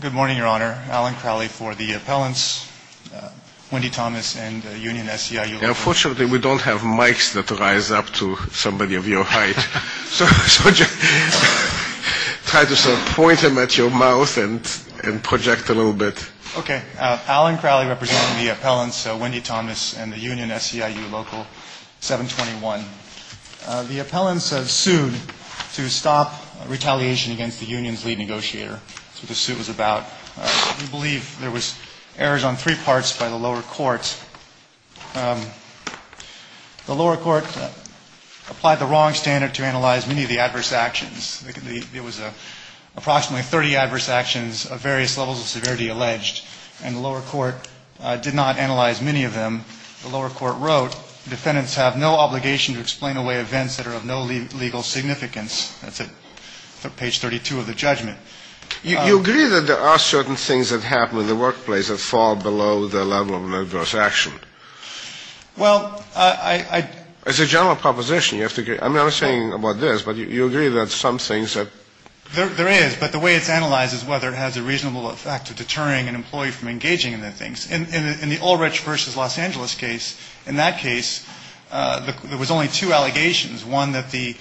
Good morning, Your Honor. Alan Crowley for the appellants, Wendy Thomas and Union SEIU Local 721. Unfortunately, we don't have mics that rise up to somebody of your height. So try to point them at your mouth and project a little bit. Okay. Alan Crowley representing the appellants, Wendy Thomas and the Union SEIU Local 721. The appellants have sued to stop retaliation against the union's lead negotiator. That's what the suit was about. We believe there was errors on three parts by the lower courts. The lower court applied the wrong standard to analyze many of the adverse actions. It was approximately 30 adverse actions of various levels of severity alleged, and the lower court did not analyze many of them. The lower court wrote, defendants have no obligation to explain away events that are of no legal significance. That's at page 32 of the judgment. You agree that there are certain things that happen in the workplace that fall below the level of an adverse action? Well, I — As a general proposition, you have to — I'm not saying about this, but you agree that some things that — There is, but the way it's analyzed is whether it has a reasonable effect of deterring an employee from engaging in the things. In the Ulrich v. Los Angeles case, in that case, there was only two allegations, one that the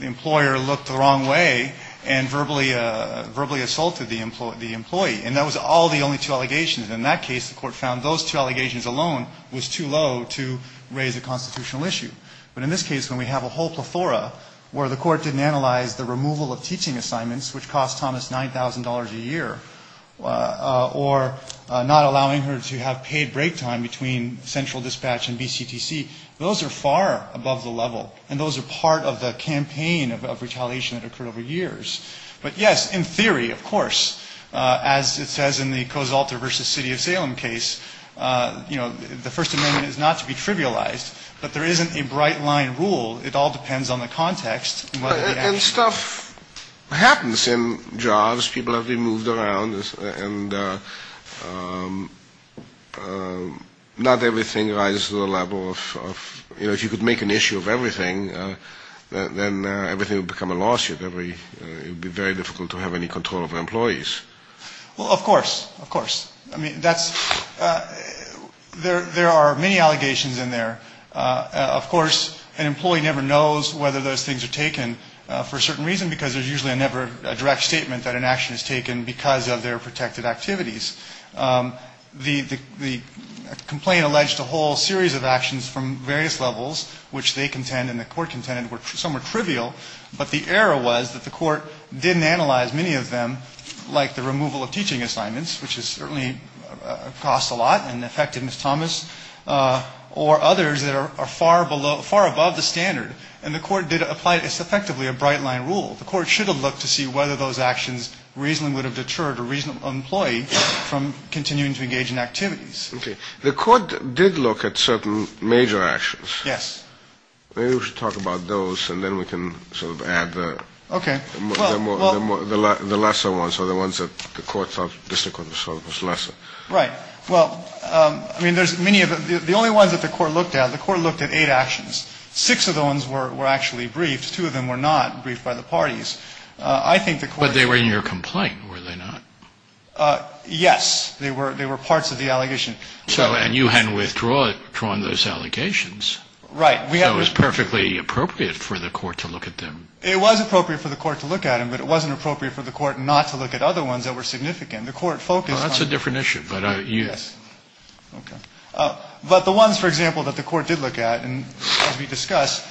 employer looked the wrong way and verbally assaulted the employee. And that was all the only two allegations. In that case, the court found those two allegations alone was too low to raise a constitutional issue. But in this case, when we have a whole plethora where the court didn't analyze the removal of teaching assignments, which cost Thomas $9,000 a year, or not allowing her to have paid break time between central dispatch and BCTC, those are far above the level. And those are part of the campaign of retaliation that occurred over years. But, yes, in theory, of course, as it says in the Kosalter v. City of Salem case, you know, the First Amendment is not to be trivialized. But there isn't a bright-line rule. It all depends on the context. And stuff happens in jobs. People have been moved around. And not everything rises to the level of, you know, if you could make an issue of everything, then everything would become a lawsuit. It would be very difficult to have any control over employees. Well, of course, of course. I mean, that's ‑‑ there are many allegations in there. Of course, an employee never knows whether those things are taken for a certain reason, because there's usually never a direct statement that an action is taken because of their protective activities. The complaint alleged a whole series of actions from various levels, which they contend and the court contended were somewhat trivial. But the error was that the court didn't analyze many of them, like the removal of teaching assignments, which is certainly a cost a lot and affected Ms. Thomas, or others that are far below ‑‑ far above the standard. And the court did apply effectively a bright-line rule. The court should have looked to see whether those actions reasonably would have deterred a reasonable employee from continuing to engage in activities. Okay. The court did look at certain major actions. Yes. Maybe we should talk about those, and then we can sort of add the ‑‑ Okay. The lesser ones are the ones that the court thought was lesser. Right. Well, I mean, there's many of them. The only ones that the court looked at, the court looked at eight actions. Six of the ones were actually briefed. Two of them were not briefed by the parties. I think the court ‑‑ But they were in your complaint, were they not? Yes. They were parts of the allegation. And you hadn't withdrawn those allegations. Right. So it was perfectly appropriate for the court to look at them. It was appropriate for the court to look at them, but it wasn't appropriate for the court not to look at other ones that were significant. The court focused on ‑‑ Well, that's a different issue. Yes. Okay. But the ones, for example, that the court did look at, and as we discussed,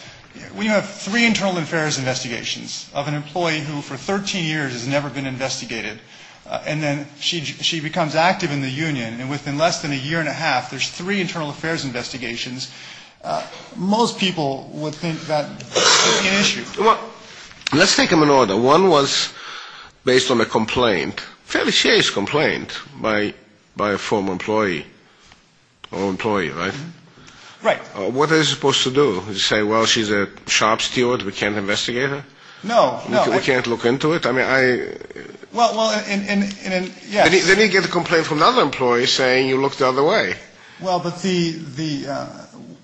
when you have three internal affairs investigations of an employee who for 13 years has never been investigated, and then she becomes active in the union, and within less than a year and a half there's three internal affairs investigations, most people would think that would be an issue. Well, let's take them in order. One was based on a complaint, fairly serious complaint, by a former employee. Former employee, right? Right. What are they supposed to do? Say, well, she's a shop steward, we can't investigate her? No, no. We can't look into it? I mean, I ‑‑ Well, in ‑‑ Then you get a complaint from another employee saying you looked the other way. Well, but the ‑‑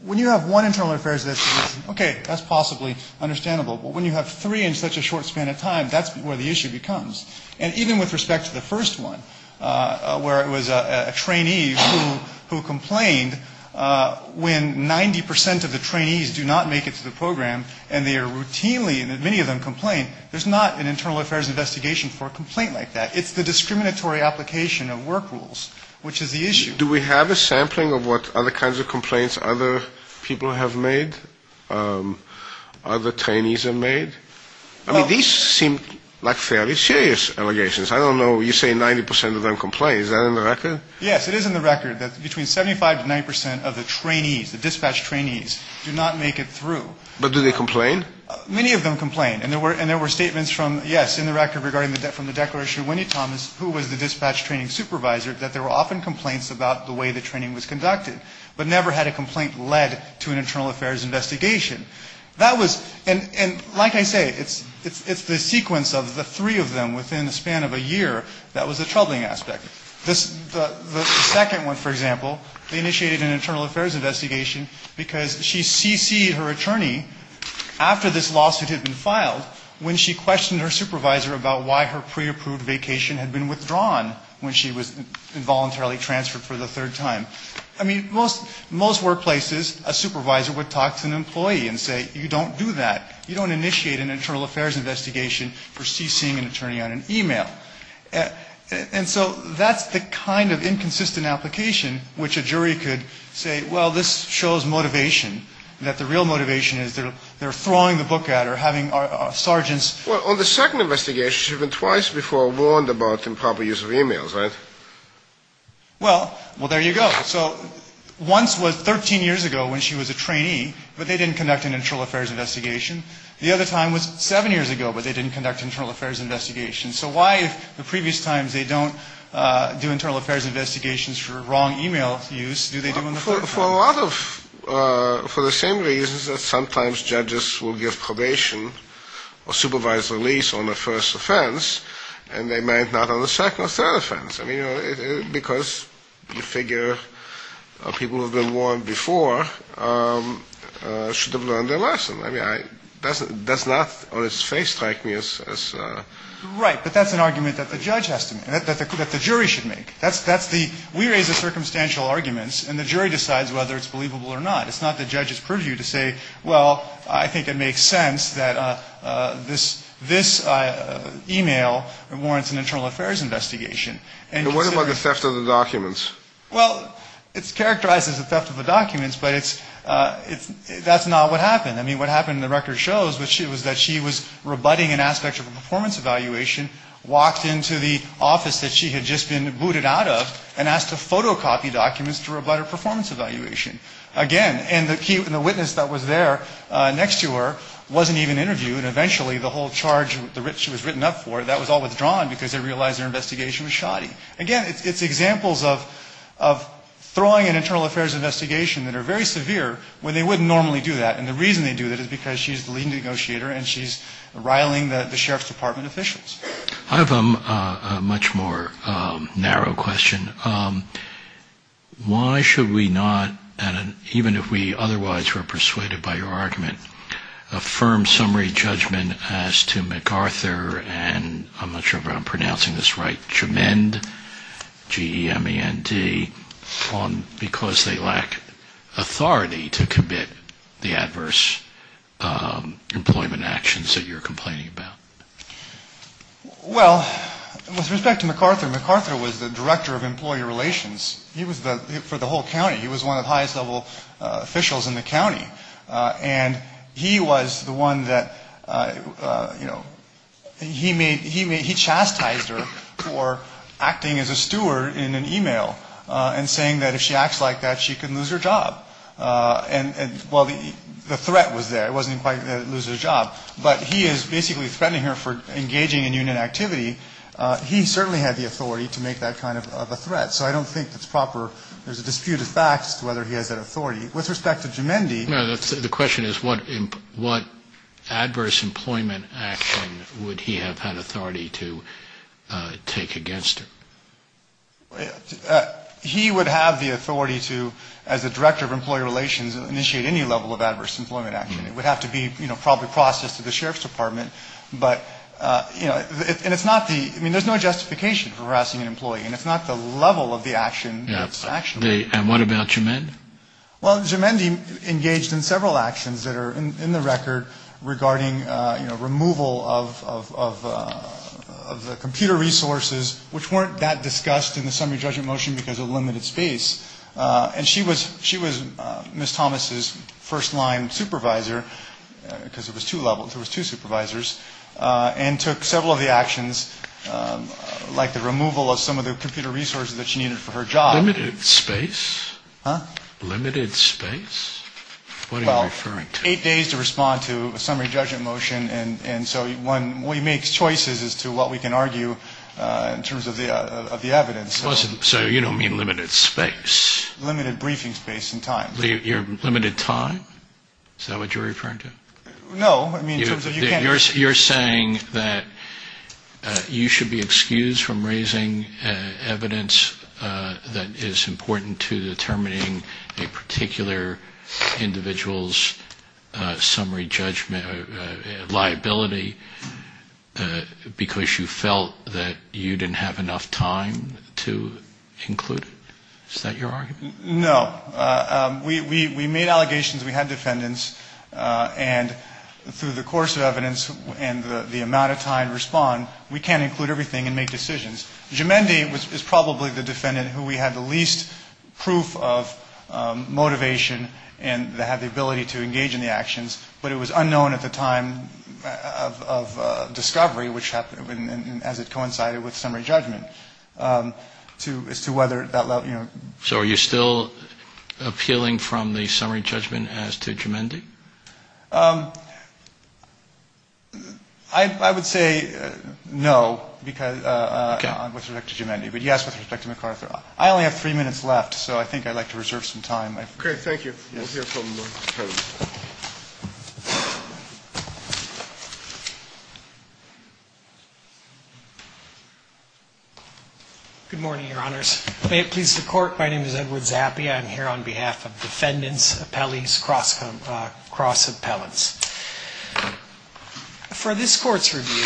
when you have one internal affairs investigation, okay, that's possibly understandable. But when you have three in such a short span of time, that's where the issue becomes. And even with respect to the first one, where it was a trainee who complained, when 90 percent of the trainees do not make it to the program and they are routinely, and many of them complain, there's not an internal affairs investigation for a complaint like that. It's the discriminatory application of work rules, which is the issue. Do we have a sampling of what other kinds of complaints other people have made? Other trainees have made? I mean, these seem like fairly serious allegations. I don't know. You say 90 percent of them complain. Is that in the record? Yes, it is in the record, that between 75 to 90 percent of the trainees, the dispatch trainees, do not make it through. But do they complain? Many of them complain. And there were statements from, yes, in the record regarding from the declaration of Winnie Thomas, who was the dispatch training supervisor, that there were often complaints about the way the training was conducted, but never had a complaint led to an internal affairs investigation. That was, and like I say, it's the sequence of the three of them within the span of a year that was a troubling aspect. The second one, for example, they initiated an internal affairs investigation because she CC'd her attorney, after this lawsuit had been filed, when she questioned her supervisor about why her pre-approved vacation had been withdrawn when she was involuntarily transferred for the third time. I mean, most workplaces, a supervisor would talk to an employee and say, you don't do that. You don't initiate an internal affairs investigation for CCing an attorney on an e-mail. And so that's the kind of inconsistent application which a jury could say, well, this shows motivation, that the real motivation is they're throwing the book at her, having sergeants. Well, on the second investigation, she went twice before warned about improper use of e-mails, right? Well, well, there you go. So once was 13 years ago when she was a trainee, but they didn't conduct an internal affairs investigation. The other time was seven years ago, but they didn't conduct an internal affairs investigation. So why, if the previous times they don't do internal affairs investigations for wrong e-mail use, do they do on the third time? For a lot of, for the same reasons that sometimes judges will give probation or supervisor release on the first offense, and they might not on the second or third offense. I mean, because you figure people who have been warned before should have learned their lesson. I mean, it does not on its face strike me as... Right, but that's an argument that the judge has to make, that the jury should make. That's the, we raise the circumstantial arguments, and the jury decides whether it's believable or not. It's not the judge's purview to say, well, I think it makes sense that this e-mail warrants an internal affairs investigation. And what about the theft of the documents? Well, it's characterized as a theft of the documents, but it's, that's not what happened. I mean, what happened in the record shows was that she was rebutting an aspect of a performance evaluation, walked into the office that she had just been booted out of, and asked to photocopy documents to rebut her performance evaluation. Again, and the witness that was there next to her wasn't even interviewed. Eventually, the whole charge she was written up for, that was all withdrawn because they realized their investigation was shoddy. Again, it's examples of throwing an internal affairs investigation that are very severe when they wouldn't normally do that. And the reason they do that is because she's the leading negotiator, and she's riling the sheriff's department officials. I have a much more narrow question. Why should we not, even if we otherwise were persuaded by your argument, affirm summary judgment as to MacArthur and, I'm not sure if I'm pronouncing this right, which amend, G-E-M-E-N-T, because they lack authority to commit the adverse employment actions that you're complaining about? Well, with respect to MacArthur, MacArthur was the director of employee relations for the whole county. He was one of the highest level officials in the county. And he was the one that, you know, he chastised her for acting as a steward in an e-mail and saying that if she acts like that, she could lose her job. And, well, the threat was there. It wasn't quite that it would lose her job. But he is basically threatening her for engaging in union activity. He certainly had the authority to make that kind of a threat. So I don't think it's proper. There's a dispute of facts as to whether he has that authority. With respect to G-E-M-E-N-T... No, the question is what adverse employment action would he have had authority to take against her? He would have the authority to, as the director of employee relations, initiate any level of adverse employment action. It would have to be, you know, probably processed to the sheriff's department. But, you know, and it's not the, I mean, there's no justification for harassing an employee. And it's not the level of the action that's actionable. And what about G-E-M-E-N-T? Well, G-E-M-E-N-T engaged in several actions that are in the record regarding, you know, removal of the computer resources, which weren't that discussed in the summary judgment motion because of limited space. And she was Ms. Thomas's first-line supervisor, because there was two levels, there was two supervisors, and took several of the actions, like the removal of some of the computer resources that she needed for her job. Limited space? Huh? Limited space? What are you referring to? Well, eight days to respond to a summary judgment motion. And so one makes choices as to what we can argue in terms of the evidence. So you don't mean limited space? Limited briefing space and time. Limited time? Is that what you're referring to? No. You're saying that you should be excused from raising evidence that is important to determining a particular individual's summary judgment liability because you felt that you didn't have enough time to include it? Is that your argument? No. We made allegations. We had defendants. And through the course of evidence and the amount of time to respond, we can't include everything and make decisions. Jumendi is probably the defendant who we had the least proof of motivation and had the ability to engage in the actions, but it was unknown at the time of discovery, as it coincided with summary judgment, as to whether that level, you know. So are you still appealing from the summary judgment as to Jumendi? I would say no with respect to Jumendi, but yes with respect to MacArthur. I only have three minutes left, so I think I'd like to reserve some time. Great. Thank you. We'll hear from you. Good morning, Your Honors. May it please the Court, my name is Edward Zappia. I'm here on behalf of defendants, appellees, cross-appellants. For this Court's review,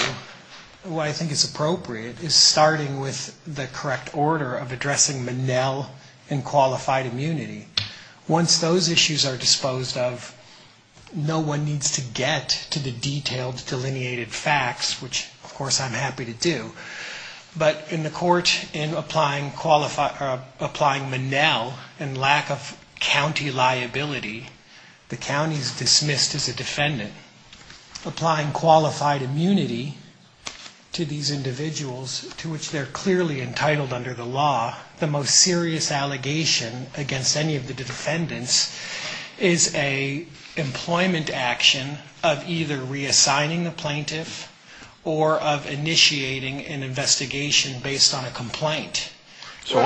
what I think is appropriate is starting with the correct order of addressing Monell and qualified immunity. Once those issues are disposed of, no one needs to get to the detailed, delineated facts, which, of course, I'm happy to do. But in the Court, in applying Monell and lack of county liability, the county is dismissed as a defendant. Applying qualified immunity to these individuals, to which they're clearly entitled under the law, the most serious allegation against any of the defendants is a employment action of either reassigning the plaintiff or of initiating an investigation based on a complaint. So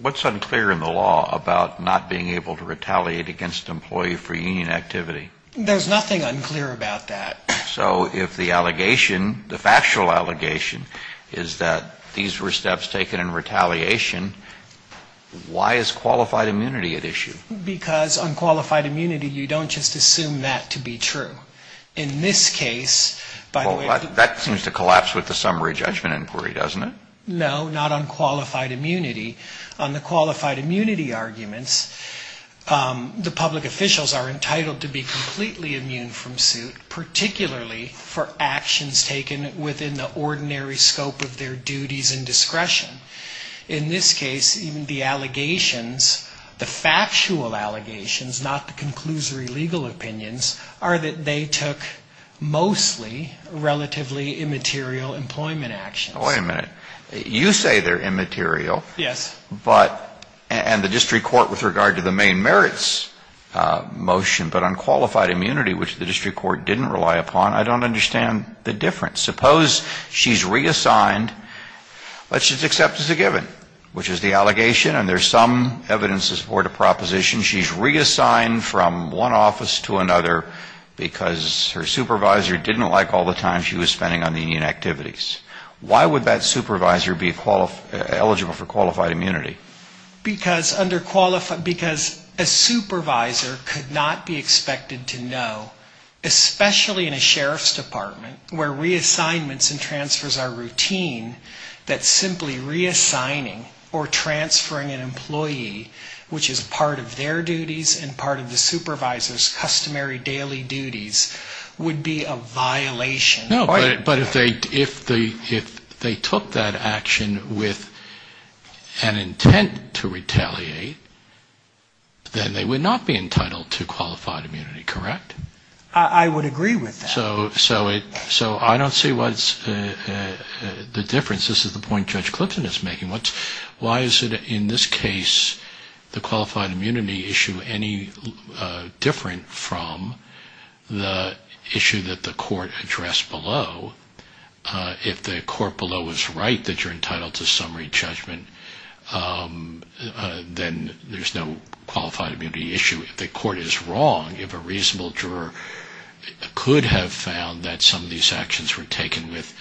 what's unclear in the law about not being able to retaliate against employee-free union activity? There's nothing unclear about that. So if the allegation, the factual allegation, is that these were steps taken in retaliation, why is qualified immunity at issue? Because on qualified immunity, you don't just assume that to be true. In this case, by the way... Well, that seems to collapse with the summary judgment inquiry, doesn't it? No, not on qualified immunity. On the qualified immunity arguments, the public officials are entitled to be completely immune from suit, particularly for actions taken within the ordinary scope of their duties and discretion. In this case, even the allegations, the factual allegations, not the conclusory legal opinions, are that they took mostly relatively immaterial employment actions. Wait a minute. You say they're immaterial. Yes. But, and the district court with regard to the main merits motion, but on qualified immunity, which the district court didn't rely upon, I don't understand the difference. Suppose she's reassigned, but she's accepted as a given, which is the allegation, and there's some evidence to support a proposition. She's reassigned from one office to another because her supervisor didn't like all the time she was spending on union activities. Why would that supervisor be eligible for qualified immunity? Because under qualified, because a supervisor could not be expected to know, especially in a sheriff's department where reassignments and transfers are routine, that simply reassigning or transferring an employee, which is part of their duties and part of the supervisor's customary daily duties, would be a violation. No, but if they took that action with an intent to retaliate, then they would not be entitled to qualified immunity, correct? I would agree with that. So I don't see what's the difference. This is the point Judge Clifton is making. Why is it, in this case, the qualified immunity issue any different from the issue that the court addressed below? If the court below is right that you're entitled to summary judgment, then there's no qualified immunity issue. If the court is wrong, if a reasonable juror could have found that some of these actions were taken with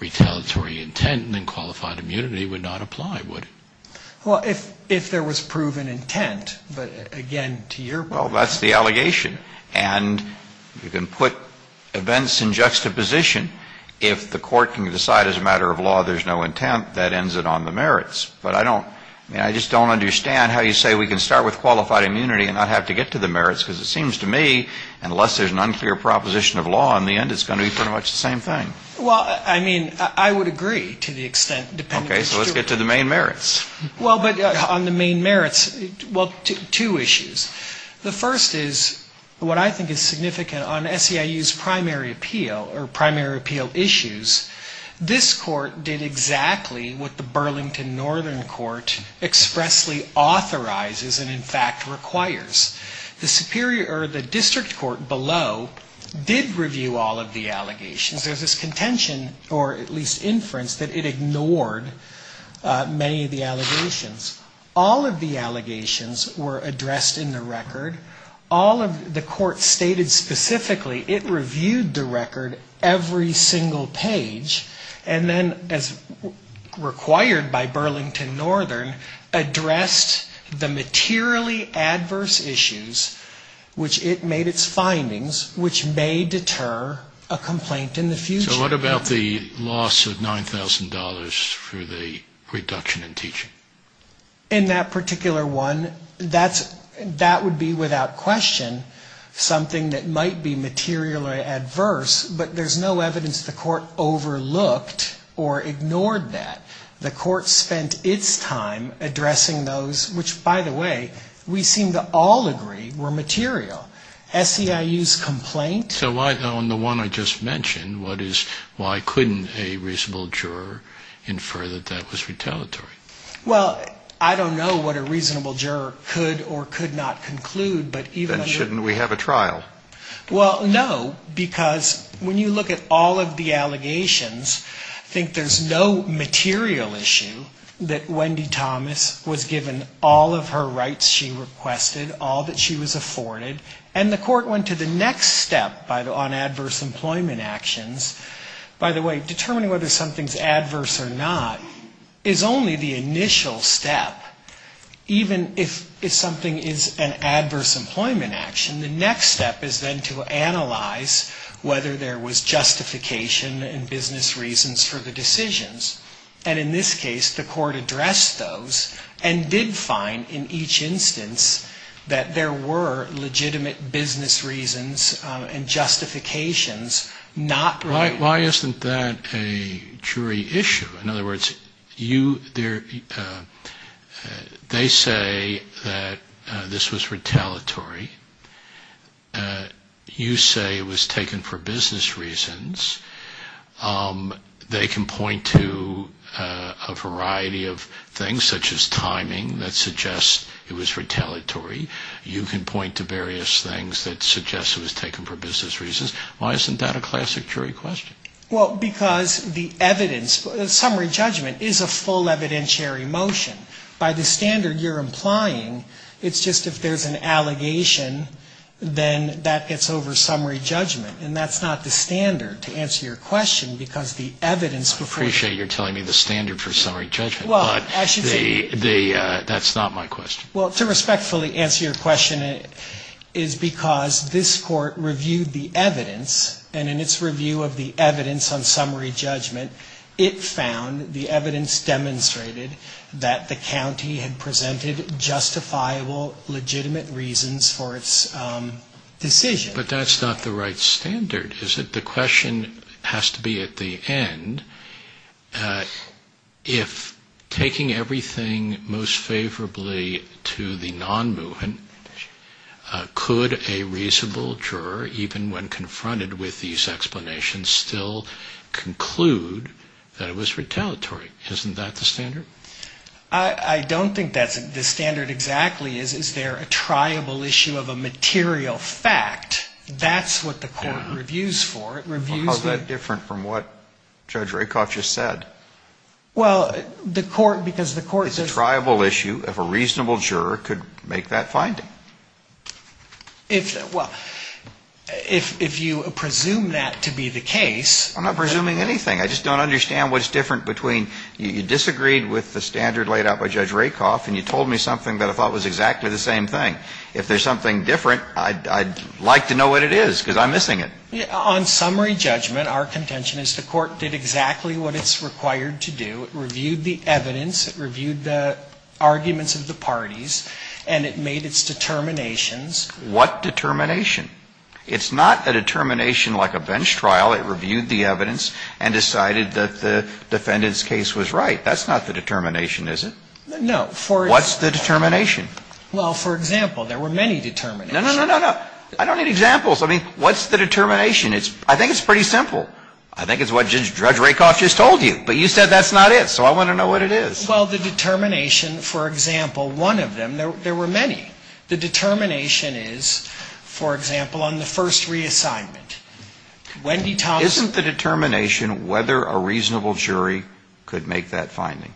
retaliatory intent, then qualified immunity would not apply, would it? Well, if there was proven intent, but again, to your point. Well, that's the allegation. And you can put events in juxtaposition. If the court can decide as a matter of law there's no intent, that ends it on the merits. But I don't, I mean, I just don't understand how you say we can start with qualified immunity and not have to get to the merits, because it seems to me unless there's an unclear proposition of law, in the end it's going to be pretty much the same thing. Well, I mean, I would agree to the extent depending on the juror. Okay, so let's get to the main merits. Well, but on the main merits, well, two issues. The first is what I think is significant on SEIU's primary appeal or primary appeal issues. This court did exactly what the Burlington Northern Court expressly authorizes and, in fact, requires. The district court below did review all of the allegations. There's this contention, or at least inference, that it ignored many of the allegations. All of the allegations were addressed in the record. All of the court stated specifically it reviewed the record every single page and then, as required by Burlington Northern, addressed the materially adverse issues which it made its findings, which may deter a complaint in the future. So what about the loss of $9,000 for the reduction in teaching? In that particular one, that would be without question something that might be materially adverse, but there's no evidence the court overlooked or ignored that. The court spent its time addressing those which, by the way, we seem to all agree were material. SEIU's complaint. So why, on the one I just mentioned, what is, why couldn't a reasonable juror infer that that was retaliatory? Well, I don't know what a reasonable juror could or could not conclude, but even under. Then shouldn't we have a trial? Well, no, because when you look at all of the allegations, I think there's no material issue Thomas was given all of her rights she requested, all that she was afforded, and the court went to the next step on adverse employment actions. By the way, determining whether something's adverse or not is only the initial step. Even if something is an adverse employment action, the next step is then to analyze whether there was justification and business reasons for the decisions. And in this case, the court addressed those and did find in each instance that there were legitimate business reasons and justifications not related. Why isn't that a jury issue? In other words, they say that this was retaliatory. You say it was taken for business reasons. They can point to a variety of things, such as timing that suggests it was retaliatory. You can point to various things that suggest it was taken for business reasons. Why isn't that a classic jury question? Well, because the evidence, the summary judgment is a full evidentiary motion. By the standard you're implying, it's just if there's an allegation, then that gets over summary judgment. And that's not the standard, to answer your question, because the evidence before you. I appreciate you're telling me the standard for summary judgment, but that's not my question. Well, to respectfully answer your question, is because this court reviewed the evidence, and in its review of the evidence on summary judgment, it found the evidence demonstrated that the county had presented justifiable, legitimate reasons for its decision. But that's not the right standard, is it? The question has to be, at the end, if taking everything most favorably to the non-movement, could a reasonable juror, even when confronted with these explanations, still conclude that it was retaliatory? Isn't that the standard? I don't think that's the standard exactly. Is there a triable issue of a material fact? That's what the court reviews for. How is that different from what Judge Rakoff just said? Well, the court, because the court doesn't. It's a triable issue if a reasonable juror could make that finding. Well, if you presume that to be the case. I'm not presuming anything. I just don't understand what's different between you disagreed with the standard laid out by Judge Rakoff, and you told me something that I thought was exactly the same thing. If there's something different, I'd like to know what it is, because I'm missing it. On summary judgment, our contention is the court did exactly what it's required to do. It reviewed the evidence. It reviewed the arguments of the parties. And it made its determinations. What determination? It's not a determination like a bench trial. It reviewed the evidence and decided that the defendant's case was right. That's not the determination, is it? No. What's the determination? Well, for example, there were many determinations. No, no, no, no. I don't need examples. I mean, what's the determination? I think it's pretty simple. I think it's what Judge Rakoff just told you. But you said that's not it. So I want to know what it is. Well, the determination, for example, one of them, there were many. The determination is, for example, on the first reassignment. Isn't the determination whether a reasonable jury could make that finding?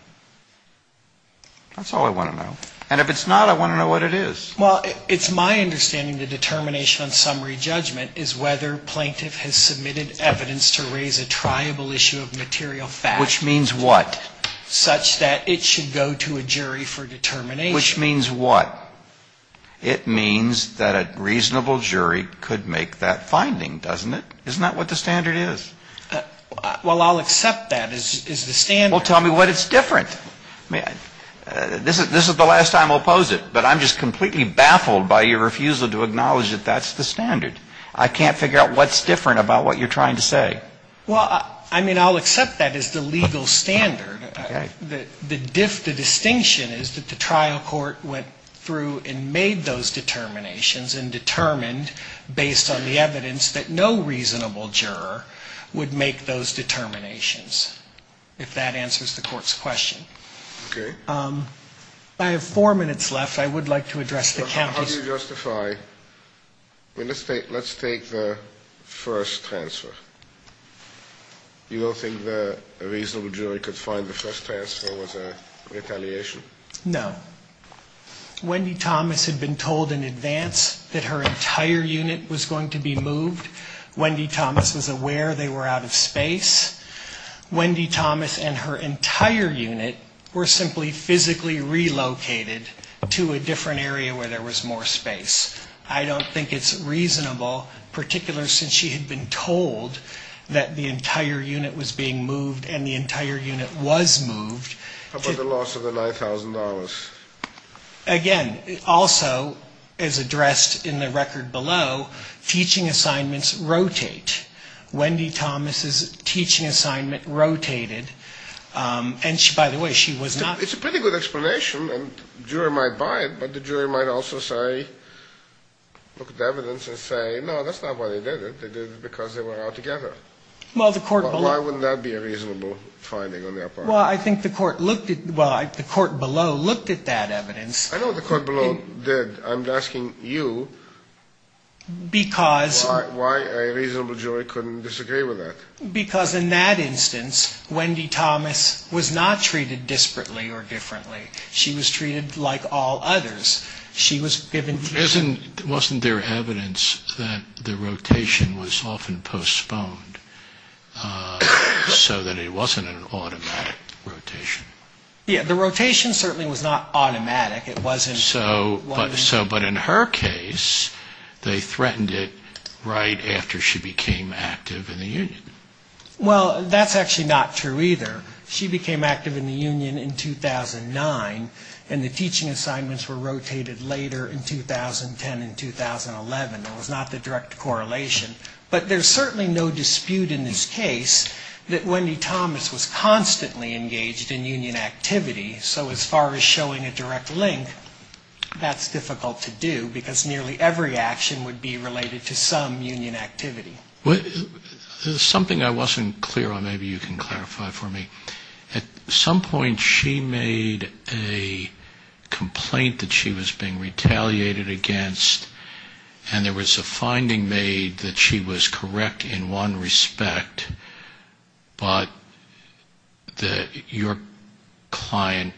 That's all I want to know. And if it's not, I want to know what it is. Well, it's my understanding the determination on summary judgment is whether plaintiff has submitted evidence to raise a triable issue of material fact. Which means what? Such that it should go to a jury for determination. Which means what? It means that a reasonable jury could make that finding, doesn't it? Isn't that what the standard is? Well, I'll accept that as the standard. Well, tell me what it's different. This is the last time we'll pose it. But I'm just completely baffled by your refusal to acknowledge that that's the standard. I can't figure out what's different about what you're trying to say. Well, I mean, I'll accept that as the legal standard. The distinction is that the trial court went through and made those determinations and determined, based on the evidence, that no reasonable juror would make those determinations, if that answers the court's question. Okay. I have four minutes left. I would like to address the county's... How do you justify? Let's take the first transfer. You don't think that a reasonable jury could find the first transfer was a retaliation? No. Wendy Thomas had been told in advance that her entire unit was going to be moved. Wendy Thomas was aware they were out of space. Wendy Thomas and her entire unit were simply physically relocated to a different area where there was more space. I don't think it's reasonable, particularly since she had been told that the entire unit was being moved and the entire unit was moved. How about the loss of the $9,000? Again, also, as addressed in the record below, teaching assignments rotate. Wendy Thomas's teaching assignment rotated. And, by the way, she was not... It's a pretty good explanation. And the jury might buy it, but the jury might also say, look at the evidence and say, no, that's not why they did it. They did it because they were out together. Why would that be a reasonable finding on their part? Well, I think the court looked at... Well, the court below looked at that evidence. I know what the court below did. I'm asking you... Because... Why a reasonable jury couldn't disagree with that? Because in that instance, Wendy Thomas was not treated disparately or differently. She was treated like all others. She was given... Wasn't there evidence that the rotation was often postponed so that it wasn't an automatic rotation? Yeah, the rotation certainly was not automatic. It wasn't... But in her case, they threatened it right after she became active in the union. Well, that's actually not true either. She became active in the union in 2009, and the teaching assignments were rotated later in 2010 and 2011. There was not the direct correlation. But there's certainly no dispute in this case that Wendy Thomas was constantly engaged in union activity. So as far as showing a direct link, that's difficult to do, because nearly every action would be related to some union activity. There's something I wasn't clear on. Maybe you can clarify for me. At some point, she made a complaint that she was being retaliated against, and there was a finding made that she was correct in one respect, but that your client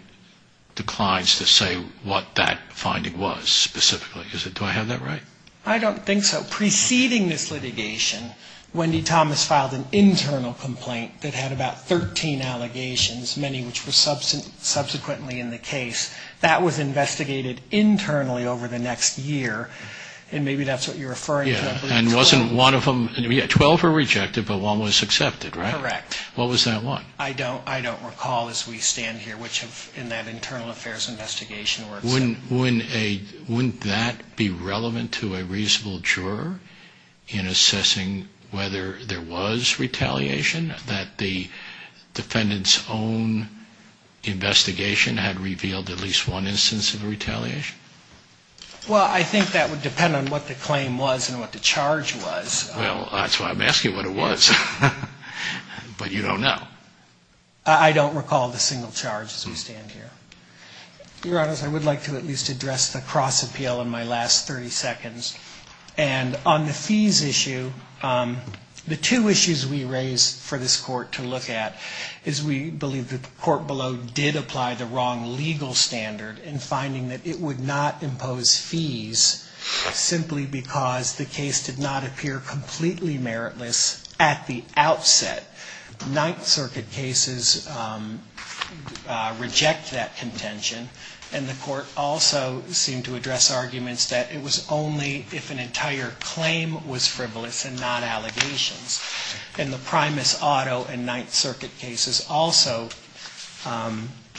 declines to say what that finding was specifically. Do I have that right? I don't think so. But preceding this litigation, Wendy Thomas filed an internal complaint that had about 13 allegations, many of which were subsequently in the case. That was investigated internally over the next year, and maybe that's what you're referring to. Yeah, and wasn't one of them... Twelve were rejected, but one was accepted, right? Correct. What was that one? I don't recall as we stand here, which in that internal affairs investigation works out. Wouldn't that be relevant to a reasonable juror in assessing whether there was retaliation, that the defendant's own investigation had revealed at least one instance of retaliation? Well, I think that would depend on what the claim was and what the charge was. Well, that's why I'm asking what it was. But you don't know. I don't recall the single charge as we stand here. Your Honor, I would like to at least address the cross-appeal in my last 30 seconds. And on the fees issue, the two issues we raise for this court to look at is we believe the court below did apply the wrong legal standard in finding that it would not impose fees simply because the case did not appear completely meritless at the outset. Ninth Circuit cases reject that contention, and the court also seemed to address arguments that it was only if an entire claim was frivolous and not allegations. And the Primus Auto and Ninth Circuit cases also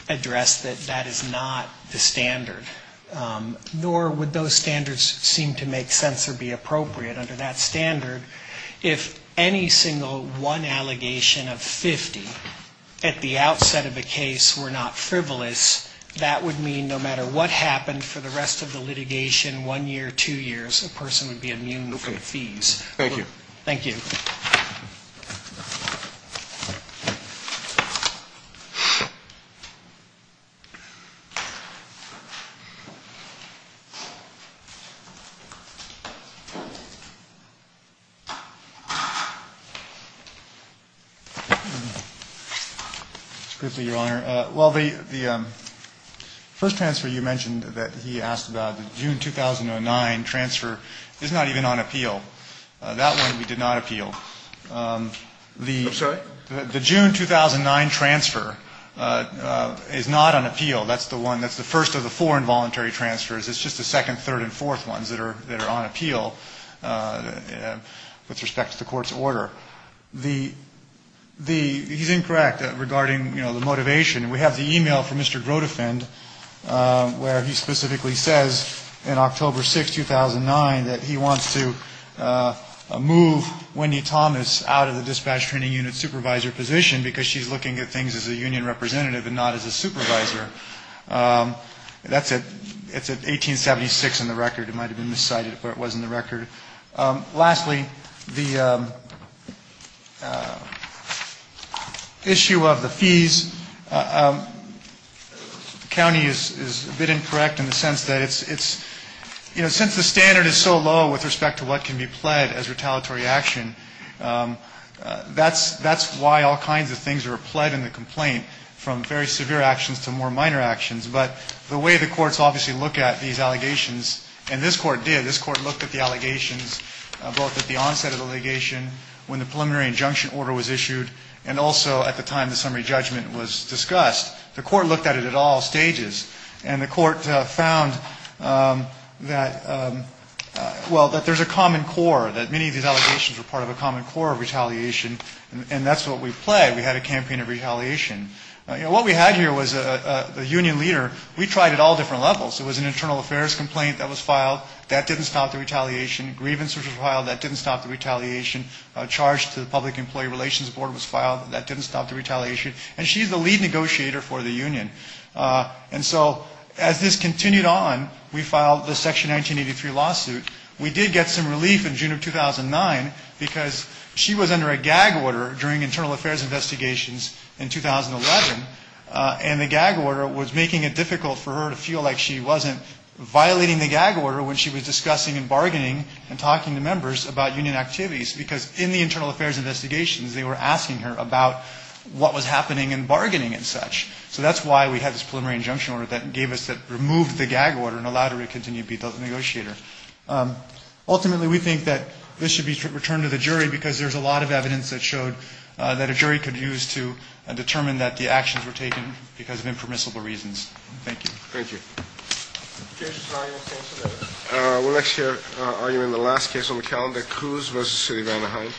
address that that is not the standard, nor would those standards seem to make sense or be appropriate under that standard if any single one allegation of 50 at the outset of a case were not frivolous, that would mean no matter what happened for the rest of the litigation, one year, two years, a person would be immune from fees. Thank you. Thank you. Mr. Grifley, Your Honor. Well, the first transfer you mentioned that he asked about, the June 2009 transfer, is not even on appeal. That one we did not appeal. I'm sorry? The June 2009 transfer is not on appeal. That's the one, that's the first of the four involuntary transfers. It's just the second, third, and fourth ones that are on appeal. With respect to the court's order. He's incorrect regarding, you know, the motivation. We have the e-mail from Mr. Grotefend where he specifically says in October 6, 2009, that he wants to move Wendy Thomas out of the dispatch training unit supervisor position because she's looking at things as a union representative and not as a supervisor. That's at 1876 in the record. It might have been miscited, but it was in the record. Lastly, the issue of the fees. The county is a bit incorrect in the sense that it's, you know, since the standard is so low with respect to what can be pled as retaliatory action, that's why all kinds of things are pled in the complaint, from very severe actions to more minor actions. But the way the courts obviously look at these allegations, and this court did, this court looked at the allegations both at the onset of the allegation, when the preliminary injunction order was issued, and also at the time the summary judgment was discussed. The court looked at it at all stages. And the court found that, well, that there's a common core, that many of these allegations were part of a common core of retaliation, and that's what we pled. We had a campaign of retaliation. You know, what we had here was a union leader. We tried at all different levels. It was an internal affairs complaint that was filed. That didn't stop the retaliation. Grievances were filed. That didn't stop the retaliation. A charge to the public employee relations board was filed. That didn't stop the retaliation. And she's the lead negotiator for the union. And so as this continued on, we filed the Section 1983 lawsuit. We did get some relief in June of 2009, because she was under a gag order during internal affairs investigations in 2011, and the gag order was making it difficult for her to feel like she wasn't violating the gag order when she was discussing and bargaining and talking to members about union activities, because in the internal affairs investigations, they were asking her about what was happening in bargaining and such. So that's why we had this preliminary injunction order that removed the gag order and allowed her to continue to be the negotiator. Ultimately, we think that this should be returned to the jury, because there's a lot of evidence that showed that a jury could use to determine that the actions were taken because of impermissible reasons. Thank you. Thank you. We're next here arguing the last case on the calendar, Coos v. City of Anaheim.